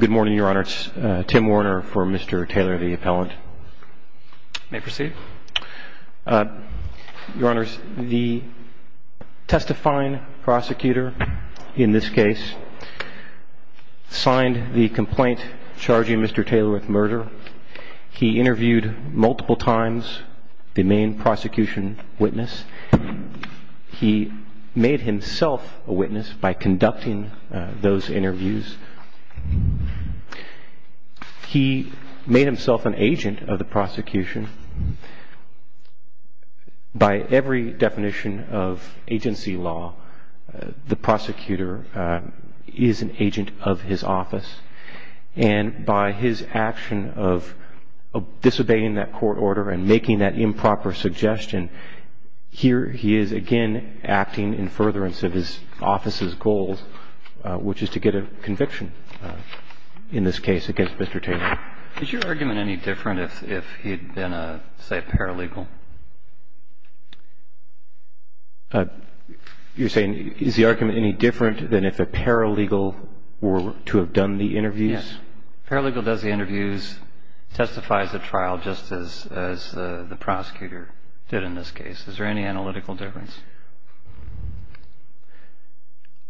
Good morning, Your Honor. It's Tim Warner for Mr. Taylor v. Appellant. May I proceed? Your Honor, the testifying prosecutor in this case signed the complaint charging Mr. Taylor with murder. He interviewed multiple times the main prosecution witness. He made himself a witness by conducting those interviews. He made himself an agent of the prosecution. By every definition of agency law, the prosecutor is an agent of his office. And by his action of disobeying that court order and making that improper suggestion, here he is again acting in furtherance of his office's goals, which is to get a conviction in this case against Mr. Taylor. Is your argument any different if he had been, say, a paralegal? You're saying is the argument any different than if a paralegal were to have done the interviews? Yes. A paralegal does the interviews, testifies at trial, just as the prosecutor did in this case. Is there any analytical difference?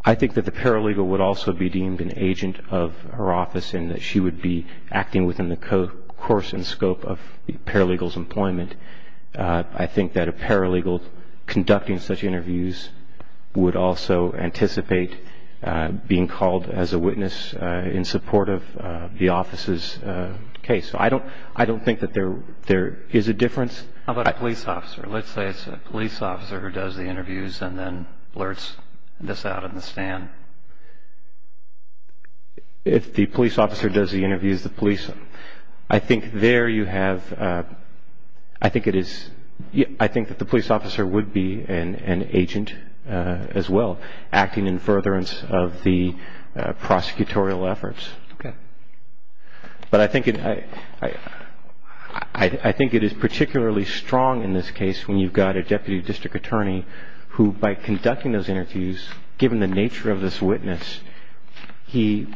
I think that the paralegal would also be deemed an agent of her office and that she would be acting within the course and scope of the paralegal's employment. I think that a paralegal conducting such interviews would also anticipate being called as a witness in support of the office's case. So I don't think that there is a difference. How about a police officer? Let's say it's a police officer who does the interviews and then blurts this out in the stand. If the police officer does the interviews, the police... I think there you have... I think it is... I think that the police officer would be an agent as well, acting in furtherance of the prosecutorial efforts. Okay. But I think it is particularly strong in this case when you've got a deputy district attorney who, by conducting those interviews, given the nature of this witness, he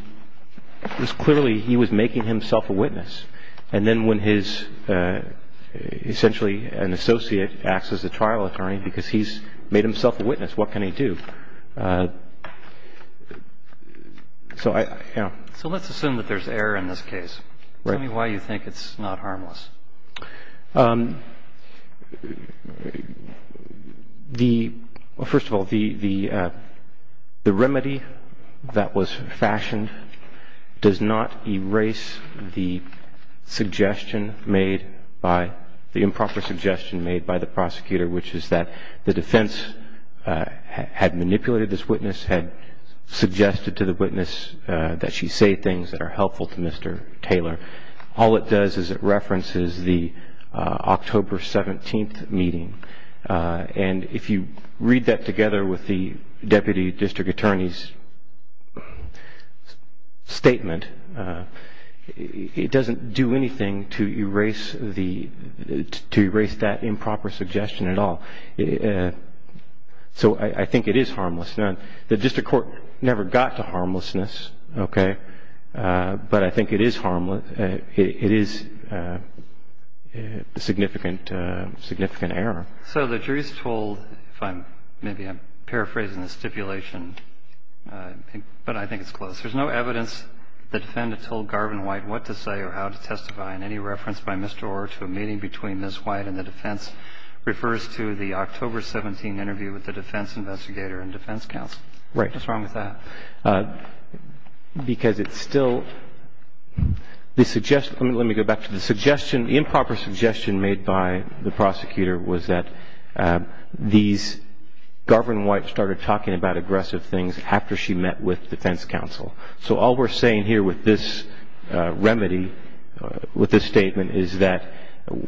was clearly... he was making himself a witness. And then when his... essentially an associate acts as a trial attorney because he's made himself a witness, what can he do? So I... So let's assume that there's error in this case. Tell me why you think it's not harmless. The... Well, first of all, the remedy that was fashioned does not erase the suggestion made by... the improper suggestion made by the prosecutor, which is that the defense had manipulated this witness, had suggested to the witness that she say things that are helpful to Mr. Taylor. All it does is it references the October 17th meeting. And if you read that together with the deputy district attorney's statement, it doesn't do anything to erase the... to erase that improper suggestion at all. So I think it is harmless. The district court never got to harmlessness, okay? But I think it is harmless. It is a significant error. So the jury's told, if I'm... maybe I'm paraphrasing the stipulation, but I think it's close. There's no evidence the defendant told Garvin White what to say or how to testify, and any reference by Mr. Orr to a meeting between Ms. White and the defense refers to the October 17th interview with the defense investigator and defense counsel. Right. What's wrong with that? Because it's still... the suggestion... let me go back to the suggestion. The improper suggestion made by the prosecutor was that these... Garvin White started talking about aggressive things after she met with defense counsel. So all we're saying here with this remedy, with this statement, is that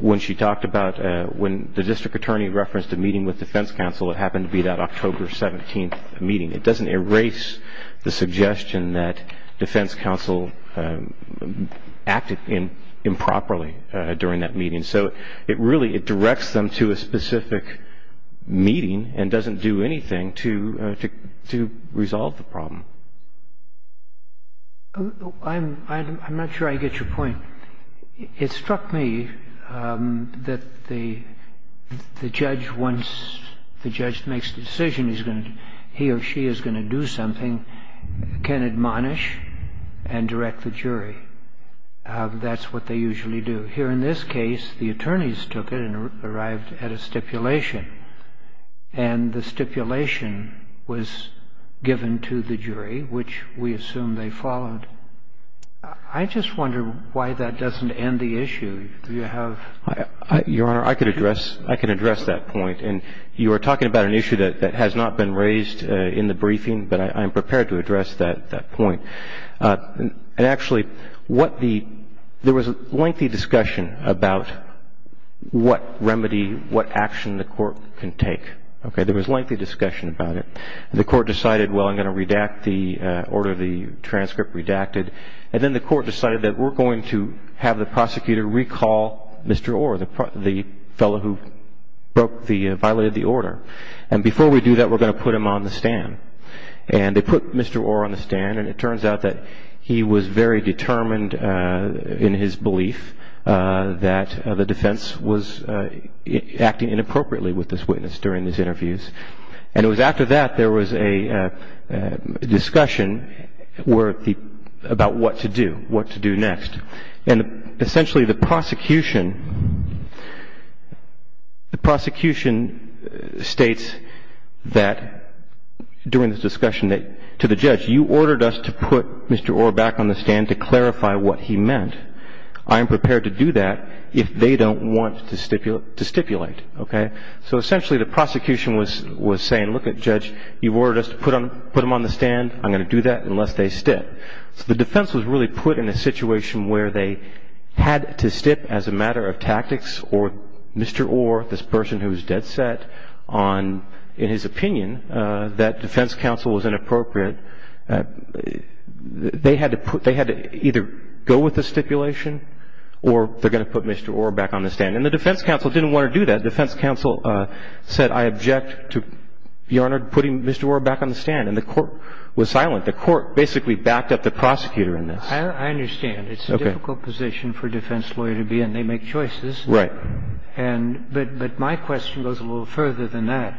when she talked about... when the district attorney referenced a meeting with defense counsel, it happened to be that October 17th meeting. It doesn't erase the suggestion that defense counsel acted improperly during that meeting. So it really... it directs them to a specific meeting and doesn't do anything to resolve the problem. I'm not sure I get your point. It struck me that the judge, once the judge makes the decision he or she is going to do something, can admonish and direct the jury. That's what they usually do. Here in this case, the attorneys took it and arrived at a stipulation. And the stipulation was given to the jury, which we assume they followed. I just wonder why that doesn't end the issue. Do you have... Your Honor, I could address that point. And you are talking about an issue that has not been raised in the briefing, but I'm prepared to address that point. And actually, what the... there was a lengthy discussion about what remedy, what action the Court can take. Okay? There was lengthy discussion about it. The Court decided, well, I'm going to redact the order, the transcript redacted. And then the Court decided that we're going to have the prosecutor recall Mr. Orr, the fellow who violated the order. And before we do that, we're going to put him on the stand. And they put Mr. Orr on the stand, and it turns out that he was very determined in his belief that the defense was acting inappropriately with this witness during these interviews. And it was after that there was a discussion about what to do, what to do next. And essentially, the prosecution states that during this discussion to the judge, you ordered us to put Mr. Orr back on the stand to clarify what he meant. I am prepared to do that if they don't want to stipulate. Okay? So essentially, the prosecution was saying, look, Judge, you ordered us to put him on the stand. I'm going to do that unless they stip. So the defense was really put in a situation where they had to stip as a matter of tactics or Mr. Orr, this person who was dead set on, in his opinion, that defense counsel was inappropriate. They had to either go with the stipulation or they're going to put Mr. Orr back on the stand. And the defense counsel didn't want to do that. The defense counsel said, I object to Your Honor putting Mr. Orr back on the stand. And the court was silent. The court basically backed up the prosecutor in this. I understand. It's a difficult position for a defense lawyer to be in. They make choices. Right. But my question goes a little further than that.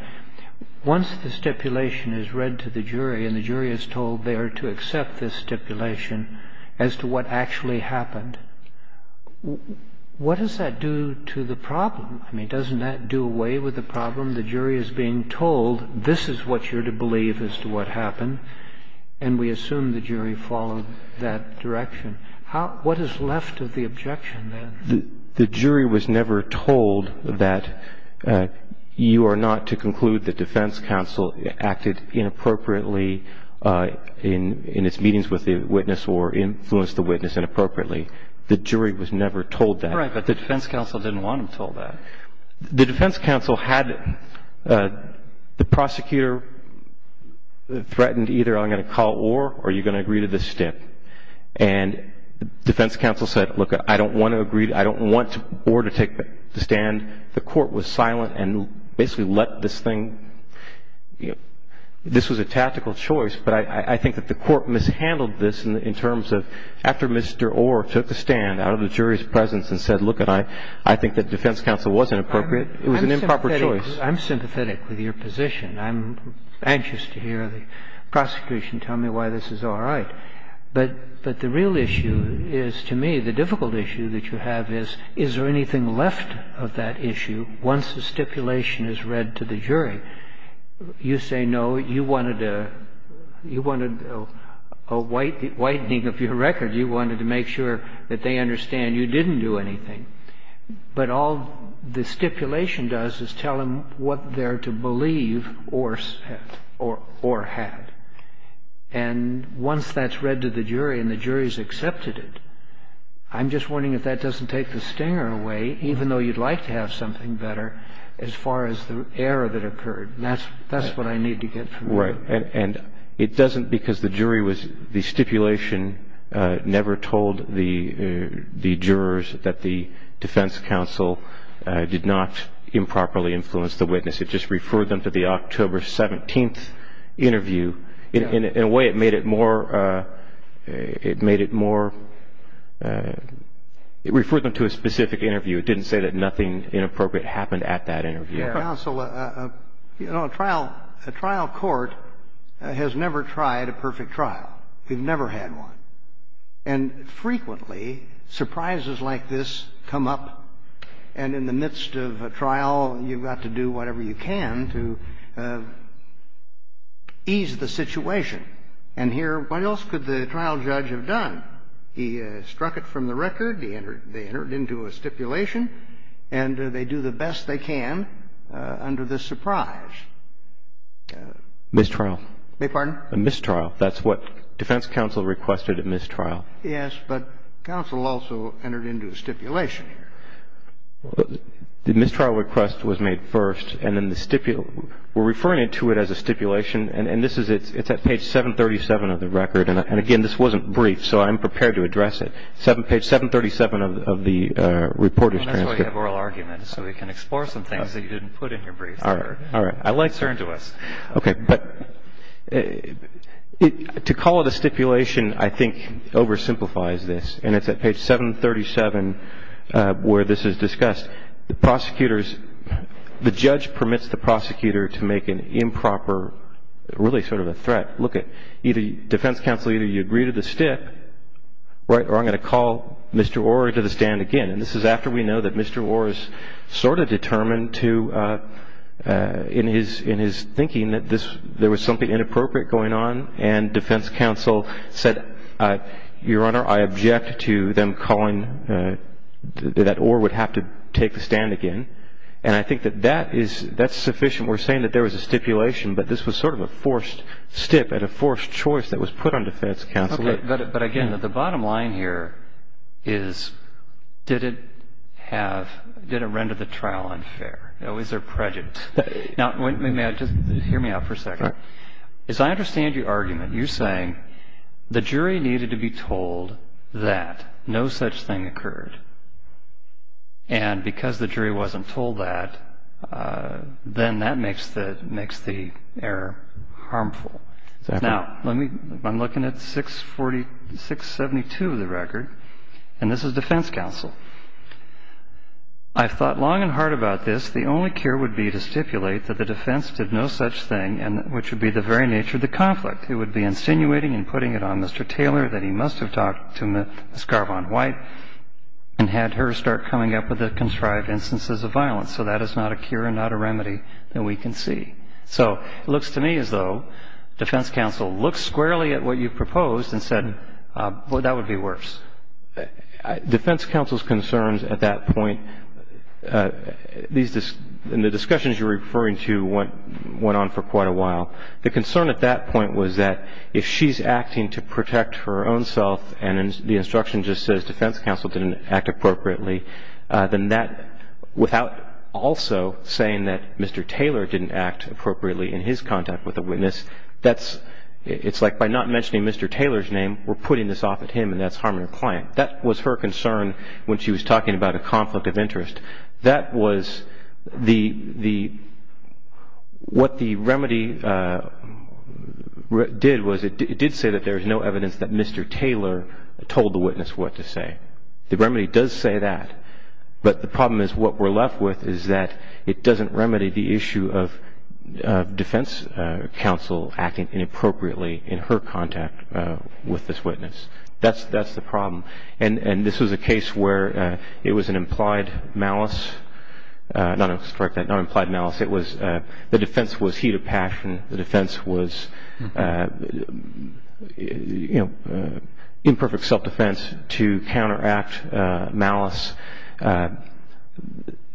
Once the stipulation is read to the jury and the jury is told they are to accept this stipulation as to what actually happened, what does that do to the problem? I mean, doesn't that do away with the problem? The jury is being told, this is what you're to believe as to what happened, and we assume the jury followed that direction. What is left of the objection then? The jury was never told that you are not to conclude the defense counsel acted inappropriately in its meetings with the witness or influenced the witness inappropriately. The jury was never told that. Right, but the defense counsel didn't want them told that. The defense counsel had the prosecutor threatened either I'm going to call Orr or you're going to agree to this stip. And the defense counsel said, look, I don't want to agree. I don't want Orr to take the stand. The court was silent and basically let this thing ñ this was a tactical choice, but I think that the court mishandled this in terms of after Mr. Orr took the stand out of the jury's presence and said, look, I think that defense counsel wasn't appropriate. It was an improper choice. I'm sympathetic with your position. I'm anxious to hear the prosecution tell me why this is all right. But the real issue is, to me, the difficult issue that you have is, is there anything left of that issue once the stipulation is read to the jury? You say, no, you wanted a whitening of your record. You wanted to make sure that they understand you didn't do anything. But all the stipulation does is tell them what they're to believe Orr said or had. And once that's read to the jury and the jury's accepted it, I'm just wondering if that doesn't take the stinger away, even though you'd like to have something better as far as the error that occurred. That's what I need to get from you. And it doesn't, because the jury was, the stipulation never told the jurors that the defense counsel did not improperly influence the witness. It just referred them to the October 17th interview. In a way, it made it more, it made it more, it referred them to a specific interview. It didn't say that nothing inappropriate happened at that interview. Well, you know, counsel, you know, a trial, a trial court has never tried a perfect trial. We've never had one. And frequently surprises like this come up, and in the midst of a trial, you've got to do whatever you can to ease the situation. And here, what else could the trial judge have done? He struck it from the record. He entered, they entered into a stipulation, and they do the best they can under this surprise. Mistrial. Beg your pardon? A mistrial. That's what defense counsel requested, a mistrial. Yes, but counsel also entered into a stipulation. The mistrial request was made first, and then the, we're referring to it as a stipulation, and this is, it's at page 737 of the record. And, again, this wasn't brief, so I'm prepared to address it. Page 737 of the reporter's transcript. That's why you have oral arguments, so we can explore some things that you didn't put in your brief. All right. All right. I like to turn to us. Okay. But to call it a stipulation, I think, oversimplifies this. And it's at page 737 where this is discussed. Prosecutors, the judge permits the prosecutor to make an improper, really sort of a threat. Look, defense counsel, either you agree to the stip, right, or I'm going to call Mr. Orr to the stand again. And this is after we know that Mr. Orr is sort of determined to, in his thinking, that there was something inappropriate going on, and defense counsel said, Your Honor, I object to them calling, that Orr would have to take the stand again. And I think that that is, that's sufficient. We're saying that there was a stipulation, but this was sort of a forced stip and a forced choice that was put on defense counsel. Okay. But, again, the bottom line here is did it have, did it render the trial unfair? You know, is there prejudice? Now, may I just, hear me out for a second. Sure. As I understand your argument, you're saying the jury needed to be told that no such thing occurred. And because the jury wasn't told that, then that makes the error harmful. Exactly. Now, let me, I'm looking at 672 of the record, and this is defense counsel. I've thought long and hard about this. The only cure would be to stipulate that the defense did no such thing, which would be the very nature of the conflict. It would be insinuating and putting it on Mr. Taylor that he must have talked to Ms. Garvon White. And had her start coming up with the contrived instances of violence. So that is not a cure and not a remedy that we can see. So it looks to me as though defense counsel looked squarely at what you proposed and said, well, that would be worse. Defense counsel's concerns at that point, these, and the discussions you're referring to went on for quite a while. The concern at that point was that if she's acting to protect her own self, and the instruction just says defense counsel didn't act appropriately, then that, without also saying that Mr. Taylor didn't act appropriately in his contact with the witness, that's, it's like by not mentioning Mr. Taylor's name, we're putting this off at him, and that's harming her client. That was her concern when she was talking about a conflict of interest. That was the, what the remedy did was it did say that there is no evidence that Mr. Taylor told the witness what to say. The remedy does say that. But the problem is what we're left with is that it doesn't remedy the issue of defense counsel acting inappropriately in her contact with this witness. That's the problem. And this was a case where it was an implied malice, not an implied malice. It was, the defense was heat of passion. The defense was, you know, imperfect self-defense to counteract malice.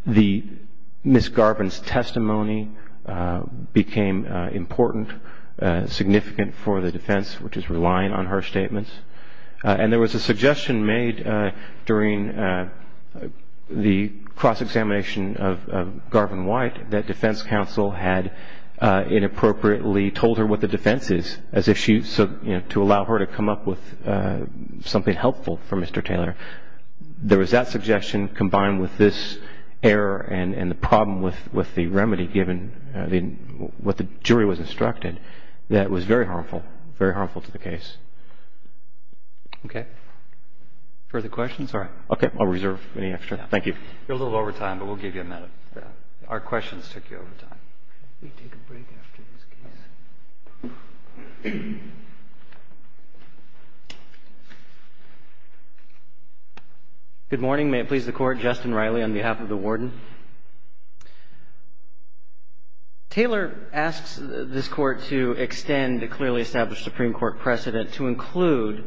The, Ms. Garvin's testimony became important, significant for the defense, which is relying on her statements. And there was a suggestion made during the cross-examination of Garvin White that defense counsel had inappropriately told her what the defense is, as if she, you know, to allow her to come up with something helpful for Mr. Taylor. There was that suggestion combined with this error and the problem with the remedy given, what the jury was instructed, that was very harmful, very harmful to the case. Okay. Further questions? Sorry. Okay. I'll reserve any extra. Thank you. You're a little over time, but we'll give you a minute. Our questions took you over time. Let me take a break after this case. Good morning. May it please the Court. Justin Riley on behalf of the Warden. Taylor asks this Court to extend the clearly established Supreme Court precedent to include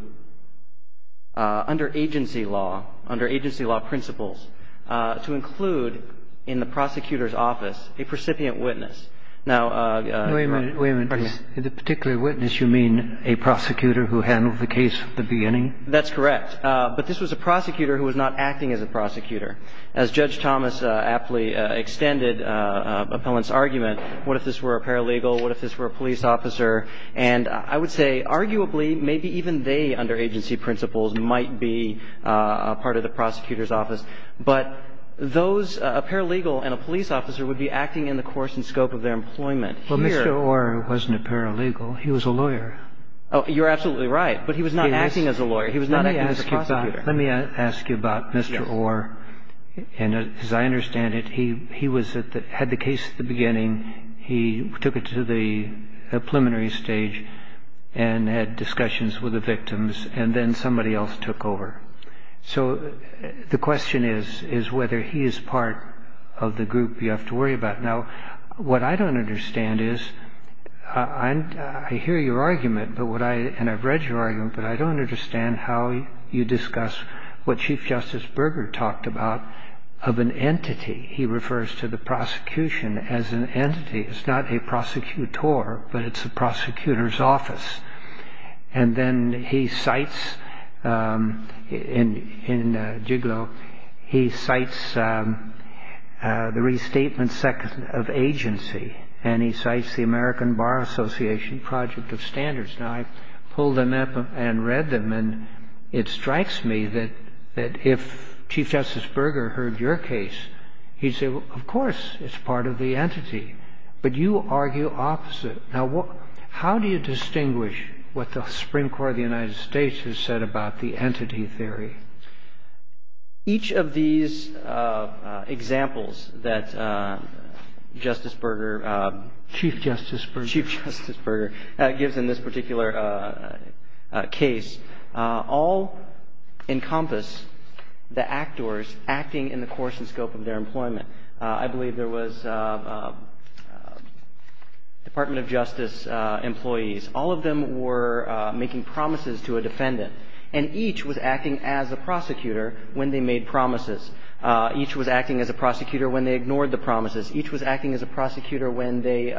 under agency law, under agency law principles, to include in the prosecutor's office a precipient witness. Now, Your Honor. Wait a minute. Wait a minute. In the particular witness, you mean a prosecutor who handled the case at the beginning? That's correct. But this was a prosecutor who was not acting as a prosecutor. As Judge Thomas aptly extended Appellant's argument, what if this were a paralegal? What if this were a police officer? And I would say arguably maybe even they, under agency principles, might be part of the prosecutor's office. But those, a paralegal and a police officer, would be acting in the course and scope of their employment. Well, Mr. Orr wasn't a paralegal. He was a lawyer. Oh, you're absolutely right. He was not acting as a prosecutor. Let me ask you about Mr. Orr. Yes. And as I understand it, he was at the – had the case at the beginning. He took it to the preliminary stage and had discussions with the victims, and then somebody else took over. So the question is, is whether he is part of the group you have to worry about. Now, what I don't understand is – I hear your argument, and I've read your argument, but I don't understand how you discuss what Chief Justice Berger talked about of an entity. He refers to the prosecution as an entity. It's not a prosecutor, but it's a prosecutor's office. And then he cites – in Giglio, he cites the restatement of agency, and he cites the American Bar Association Project of Standards. Now, I pulled them up and read them, and it strikes me that if Chief Justice Berger heard your case, he'd say, well, of course it's part of the entity. But you argue opposite. Now, how do you distinguish what the Supreme Court of the United States has said about the entity theory? Each of these examples that Justice Berger – Chief Justice Berger. Chief Justice Berger gives in this particular case all encompass the actors acting in the course and scope of their employment. I believe there was Department of Justice employees. All of them were making promises to a defendant, and each was acting as a prosecutor when they made promises. Each was acting as a prosecutor when they ignored the promises. Each was acting as a prosecutor when they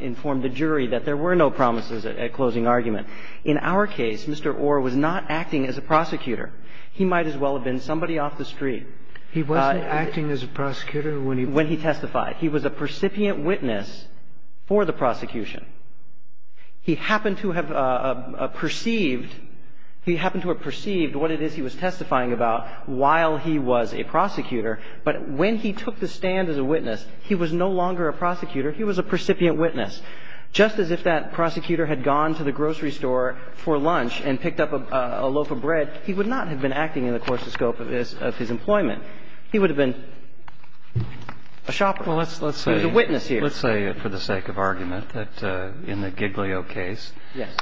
informed the jury that there were no promises at closing argument. In our case, Mr. Orr was not acting as a prosecutor. He might as well have been somebody off the street. He wasn't acting as a prosecutor when he testified. He was a percipient witness for the prosecution. He happened to have perceived – he happened to have perceived what it is he was testifying about while he was a prosecutor. But when he took the stand as a witness, he was no longer a prosecutor. He was a percipient witness. Just as if that prosecutor had gone to the grocery store for lunch and picked up a loaf of bread, he would not have been acting in the course and scope of his employment. He would have been a shopper. He was a witness here. Well, let's say for the sake of argument that in the Giglio case,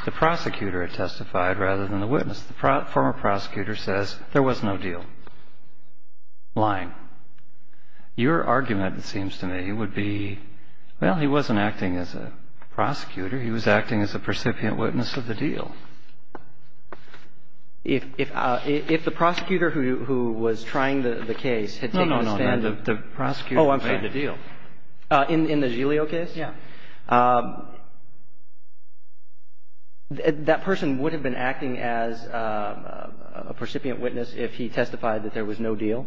the prosecutor had testified rather than the witness. The former prosecutor says there was no deal. Lying. Your argument, it seems to me, would be, well, he wasn't acting as a prosecutor. He was acting as a percipient witness of the deal. If the prosecutor who was trying the case had taken the stand – No, no, no. The prosecutor who made the deal. Oh, I'm sorry. In the Giglio case? Yeah. That person would have been acting as a percipient witness if he testified that there was no deal.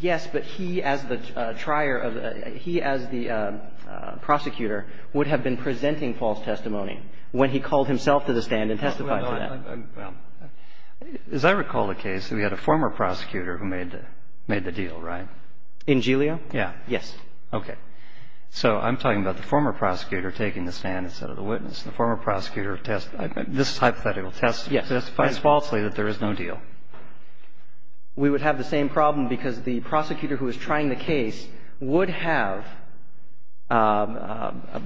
Yes, but he as the trier of the – he as the prosecutor would have been presenting false testimony when he called himself to the stand and testified to that. Well, as I recall the case, we had a former prosecutor who made the deal, right? In Giglio? Yeah. Yes. Okay. So I'm talking about the former prosecutor taking the stand instead of the witness. The former prosecutor testifies falsely that there is no deal. Yes. We would have the same problem because the prosecutor who was trying the case would have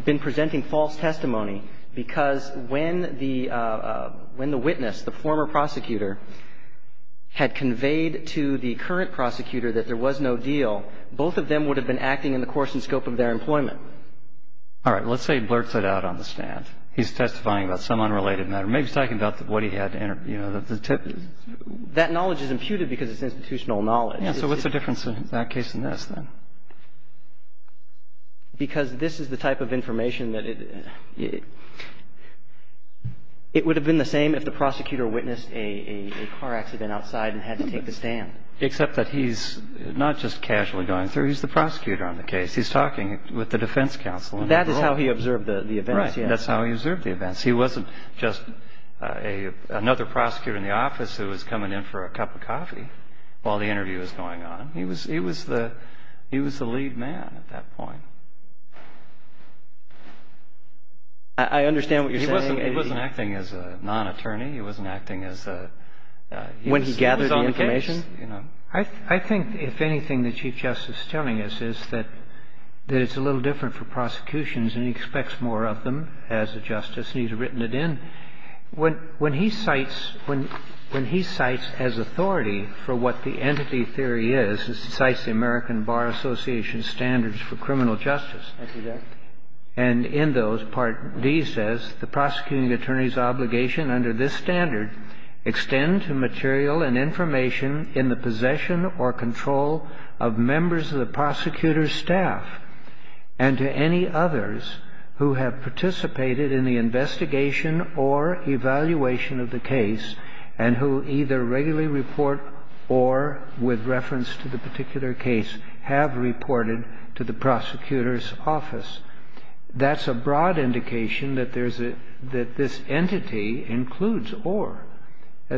been presenting false testimony because when the witness, the former prosecutor, had conveyed to the current prosecutor that there was no deal, both of them would have been acting in the course and scope of their employment. All right. Let's say he blurts it out on the stand. He's testifying about some unrelated matter. Maybe he's talking about what he had, you know, the tip. That knowledge is imputed because it's institutional knowledge. Yeah. So what's the difference in that case and this then? Because this is the type of information that it would have been the same if the prosecutor witnessed a car accident outside and had to take the stand. Except that he's not just casually going through. He's the prosecutor on the case. He's talking with the defense counsel. That is how he observed the events. Right. That's how he observed the events. He wasn't just another prosecutor in the office who was coming in for a cup of coffee while the interview was going on. He was the lead man at that point. I understand what you're saying. He wasn't acting as a non-attorney. He wasn't acting as a... When he gathered the information. He was on the case. I think if anything that Chief Justice is telling us is that it's a little different for When he cites as authority for what the entity theory is, he cites the American Bar Association's Thank you, Judge. And in those, Part D says, The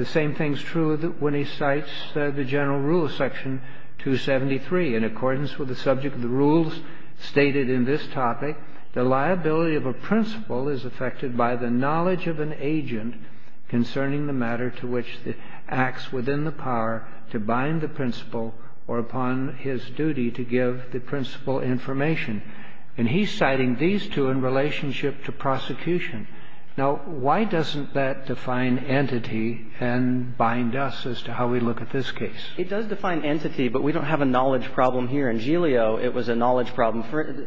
same thing is true when he cites the general rule of Section 273. In accordance with the subject of the rules stated in this topic, the liability of a principle is affected by the nature of the principle. The knowledge of an agent concerning the matter to which the acts within the power to bind the principle or upon his duty to give the principle information. And he's citing these two in relationship to prosecution. Now, why doesn't that define entity and bind us as to how we look at this case? It does define entity, but we don't have a knowledge problem here. In Giglio, it was a knowledge problem.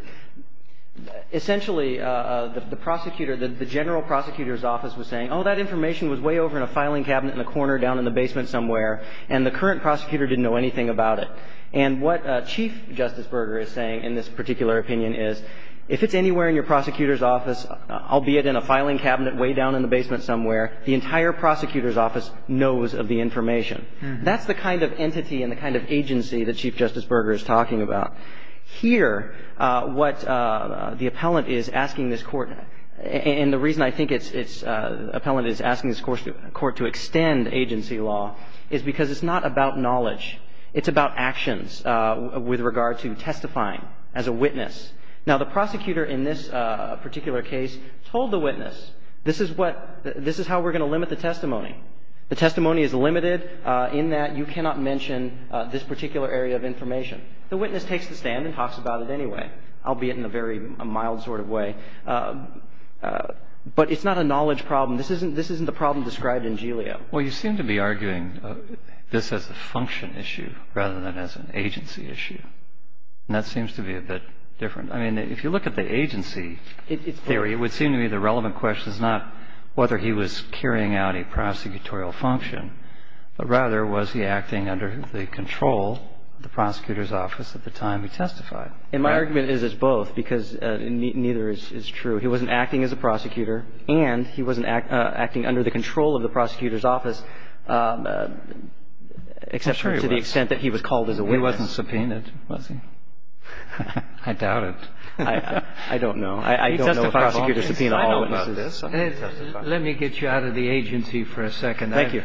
Essentially, the prosecutor, the general prosecutor was saying, oh, that information was way over in a filing cabinet in the corner down in the basement somewhere, and the current prosecutor didn't know anything about it. And what Chief Justice Berger is saying in this particular opinion is, if it's anywhere in your prosecutor's office, albeit in a filing cabinet way down in the basement somewhere, the entire prosecutor's office knows of the information. That's the kind of entity and the kind of agency that Chief Justice Berger is talking about. Here, what the appellant is asking this Court, and the reason I think it's – the appellant is asking this Court to extend agency law is because it's not about knowledge. It's about actions with regard to testifying as a witness. Now, the prosecutor in this particular case told the witness, this is what – this is how we're going to limit the testimony. The testimony is limited in that you cannot mention this particular area of information. The witness takes the stand and talks about it anyway, albeit in a very mild sort of way. But it's not a knowledge problem. This isn't – this isn't the problem described in Giglio. Well, you seem to be arguing this as a function issue rather than as an agency issue, and that seems to be a bit different. I mean, if you look at the agency theory, it would seem to me the relevant question is not whether he was carrying out a prosecutorial function, but rather was he acting under the control of the prosecutor's office at the time he testified. And my argument is it's both because neither is true. He wasn't acting as a prosecutor and he wasn't acting under the control of the prosecutor's office, except to the extent that he was called as a witness. He wasn't subpoenaed, was he? I doubt it. I don't know. I don't know if prosecutors subpoena all witnesses. Let me get you out of the agency for a second. Thank you.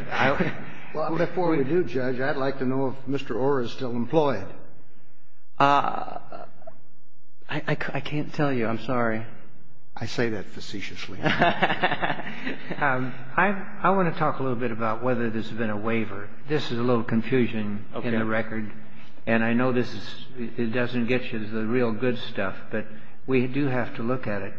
Before we do, Judge, I'd like to know if Mr. Orr is still employed. I can't tell you. I'm sorry. I say that facetiously. I want to talk a little bit about whether this has been a waiver. This is a little confusion in the record. And I know this doesn't get you the real good stuff, but we do have to look at it.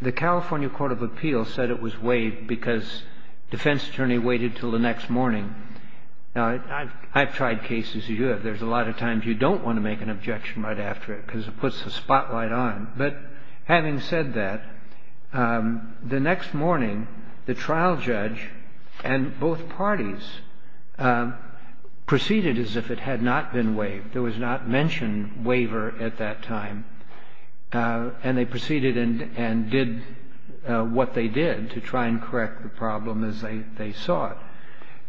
The California Court of Appeals said it was waived because defense attorney waited until the next morning. Now, I've tried cases as you have. There's a lot of times you don't want to make an objection right after it because it puts the spotlight on. But having said that, the next morning, the trial judge and both parties proceeded as if it had not been waived. There was not mentioned waiver at that time. And they proceeded and did what they did to try and correct the problem as they saw it.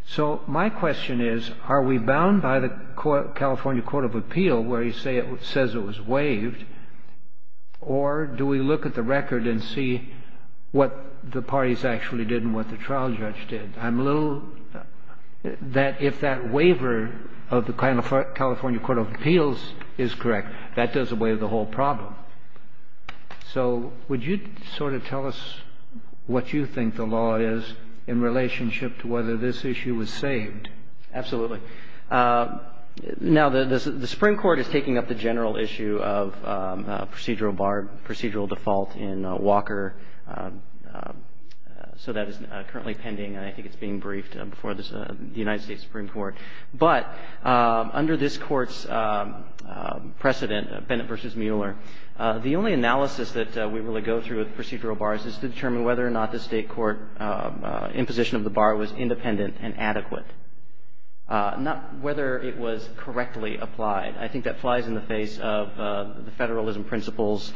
So my question is, are we bound by the California Court of Appeal where it says it was waived? Or do we look at the record and see what the parties actually did and what the trial judge did? I'm a little that if that waiver of the California Court of Appeals is correct, that does away with the whole problem. So would you sort of tell us what you think the law is in relationship to whether this issue was saved? Absolutely. Now, the Supreme Court is taking up the general issue of procedural bar, procedural default in Walker. So that is currently pending. I think it's being briefed before the United States Supreme Court. But under this Court's precedent, Bennett v. Mueller, the only analysis that we really go through with procedural bars is to determine whether or not the State court imposition of the bar was independent and adequate, not whether it was correctly applied. I think that flies in the face of the federalism principles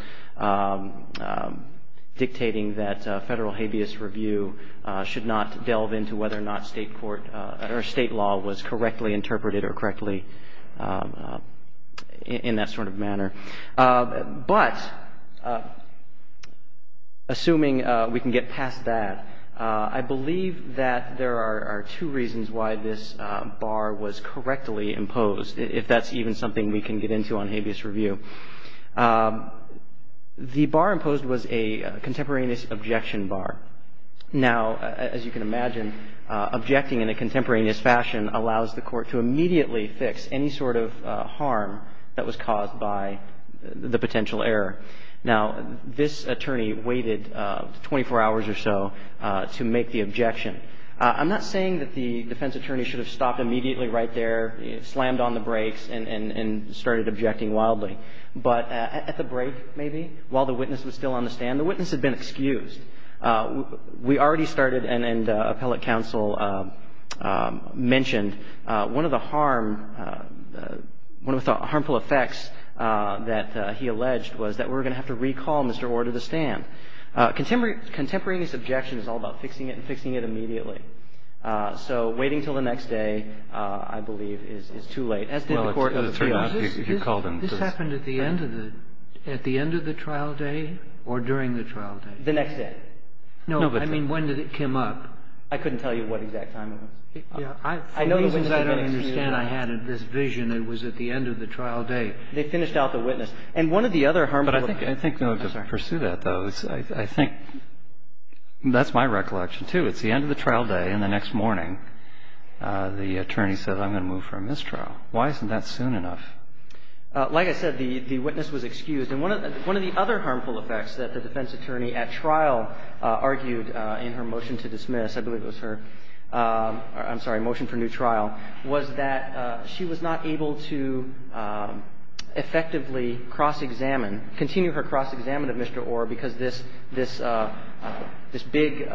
dictating that Federal habeas review should not delve into whether or not State law was correctly interpreted or correctly in that sort of manner. But assuming we can get past that, I believe that there are two reasons why this bar was correctly imposed, if that's even something we can get into on habeas review. The bar imposed was a contemporaneous objection bar. Now, as you can imagine, objecting in a contemporaneous fashion allows the Court to immediately fix any sort of harm that was caused by the potential error. Now, this attorney waited 24 hours or so to make the objection. I'm not saying that the defense attorney should have stopped immediately right there, slammed on the brakes, and started objecting wildly, but at the break, maybe, while the witness was still on the stand, the witness had been excused. We already started and appellate counsel mentioned one of the harm, one of the harmful effects that he alleged was that we were going to have to recall Mr. Orr to the stand. Contemporaneous objection is all about fixing it and fixing it immediately. So waiting until the next day, I believe, is too late, as did the Court of Appeals. So this happened at the end of the trial day or during the trial day? The next day. No, I mean, when did it come up? I couldn't tell you what exact time it was. For reasons I don't understand, I had this vision it was at the end of the trial day. They finished out the witness. And one of the other harmful effects. I think, though, to pursue that, though, I think that's my recollection, too. It's the end of the trial day, and the next morning the attorney says, I'm going to move for a mistrial. Why isn't that soon enough? Like I said, the witness was excused. And one of the other harmful effects that the defense attorney at trial argued in her motion to dismiss, I believe it was her motion for new trial, was that she was not able to effectively cross-examine, continue her cross-examination of Mr. Orr because this big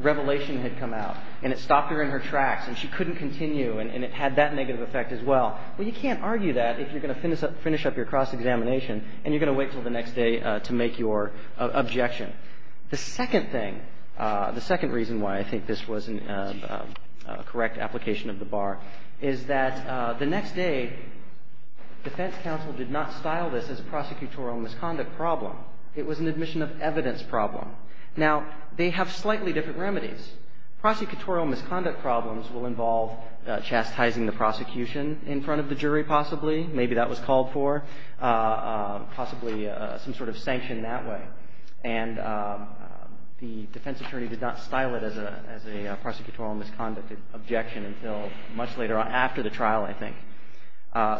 revelation had come out. And it stopped her in her tracks. And she couldn't continue. And it had that negative effect as well. Well, you can't argue that if you're going to finish up your cross-examination and you're going to wait until the next day to make your objection. The second thing, the second reason why I think this was a correct application of the bar, is that the next day defense counsel did not style this as a prosecutorial misconduct problem. It was an admission of evidence problem. Now, they have slightly different remedies. Prosecutorial misconduct problems will involve chastising the prosecution in front of the jury, possibly. Maybe that was called for. Possibly some sort of sanction that way. And the defense attorney did not style it as a prosecutorial misconduct objection until much later on after the trial, I think.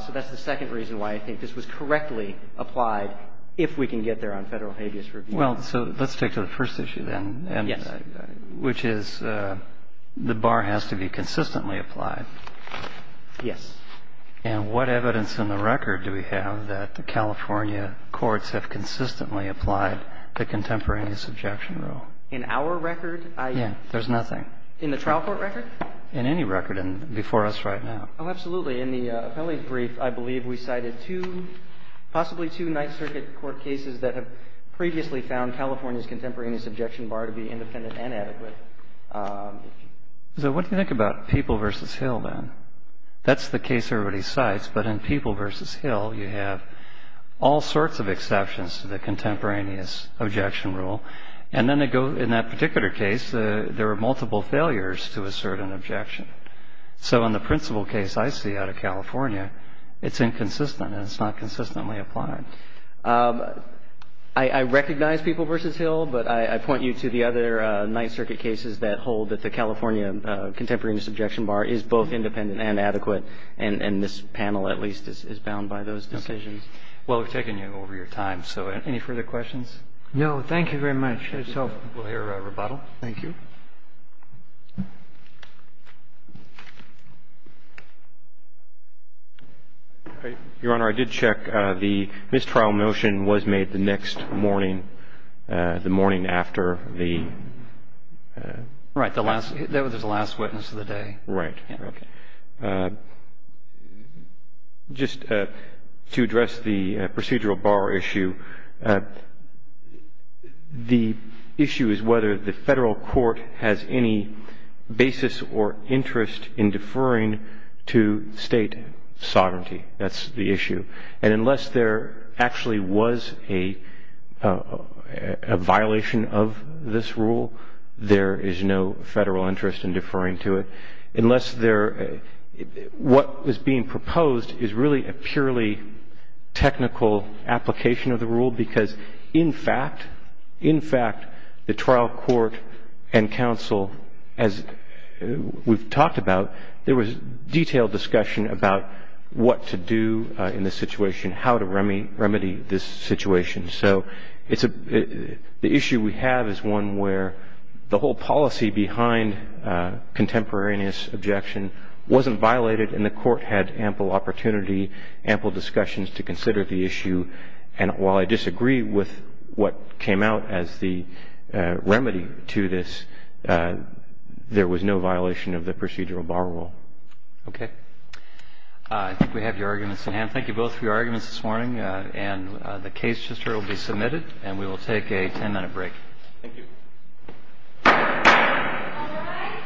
So that's the second reason why I think this was correctly applied, if we can get there on Federal habeas review. Well, so let's take to the first issue, then. Yes. Which is the bar has to be consistently applied. Yes. And what evidence in the record do we have that the California courts have consistently applied the contemporaneous objection rule? In our record? Yes. There's nothing. In the trial court record? In any record before us right now. Oh, absolutely. In the appellate brief, I believe we cited two, possibly two, Ninth Circuit court cases that have previously found California's contemporaneous objection bar to be independent and adequate. So what do you think about People v. Hill, then? That's the case everybody cites. But in People v. Hill, you have all sorts of exceptions to the contemporaneous objection rule. And then they go, in that particular case, there were multiple failures to assert an objection. So in the principal case I see out of California, it's inconsistent and it's not consistently applied. I recognize People v. Hill, but I point you to the other Ninth Circuit cases that hold that the California contemporaneous objection bar is both independent and adequate. And this panel, at least, is bound by those decisions. Well, we've taken you over your time. So any further questions? No. Thank you very much. We'll hear a rebuttal. Thank you. Your Honor, I did check. The mistrial motion was made the next morning, the morning after the ---- Right. That was the last witness of the day. Right. Okay. Just to address the procedural bar issue, the issue is whether the Federal court has any basis or interest in deferring to State sovereignty. That's the issue. And unless there actually was a violation of this rule, there is no Federal interest in deferring to it. Unless there ---- What was being proposed is really a purely technical application of the as we've talked about, there was detailed discussion about what to do in this situation, how to remedy this situation. So it's a ---- The issue we have is one where the whole policy behind contemporaneous objection wasn't violated and the court had ample opportunity, ample discussions to consider the issue. And while I disagree with what came out as the remedy to this, there was no violation of the procedural bar rule. Okay. I think we have your arguments in hand. Thank you both for your arguments this morning. And the case just will be submitted and we will take a ten-minute break. Thank you. All rise.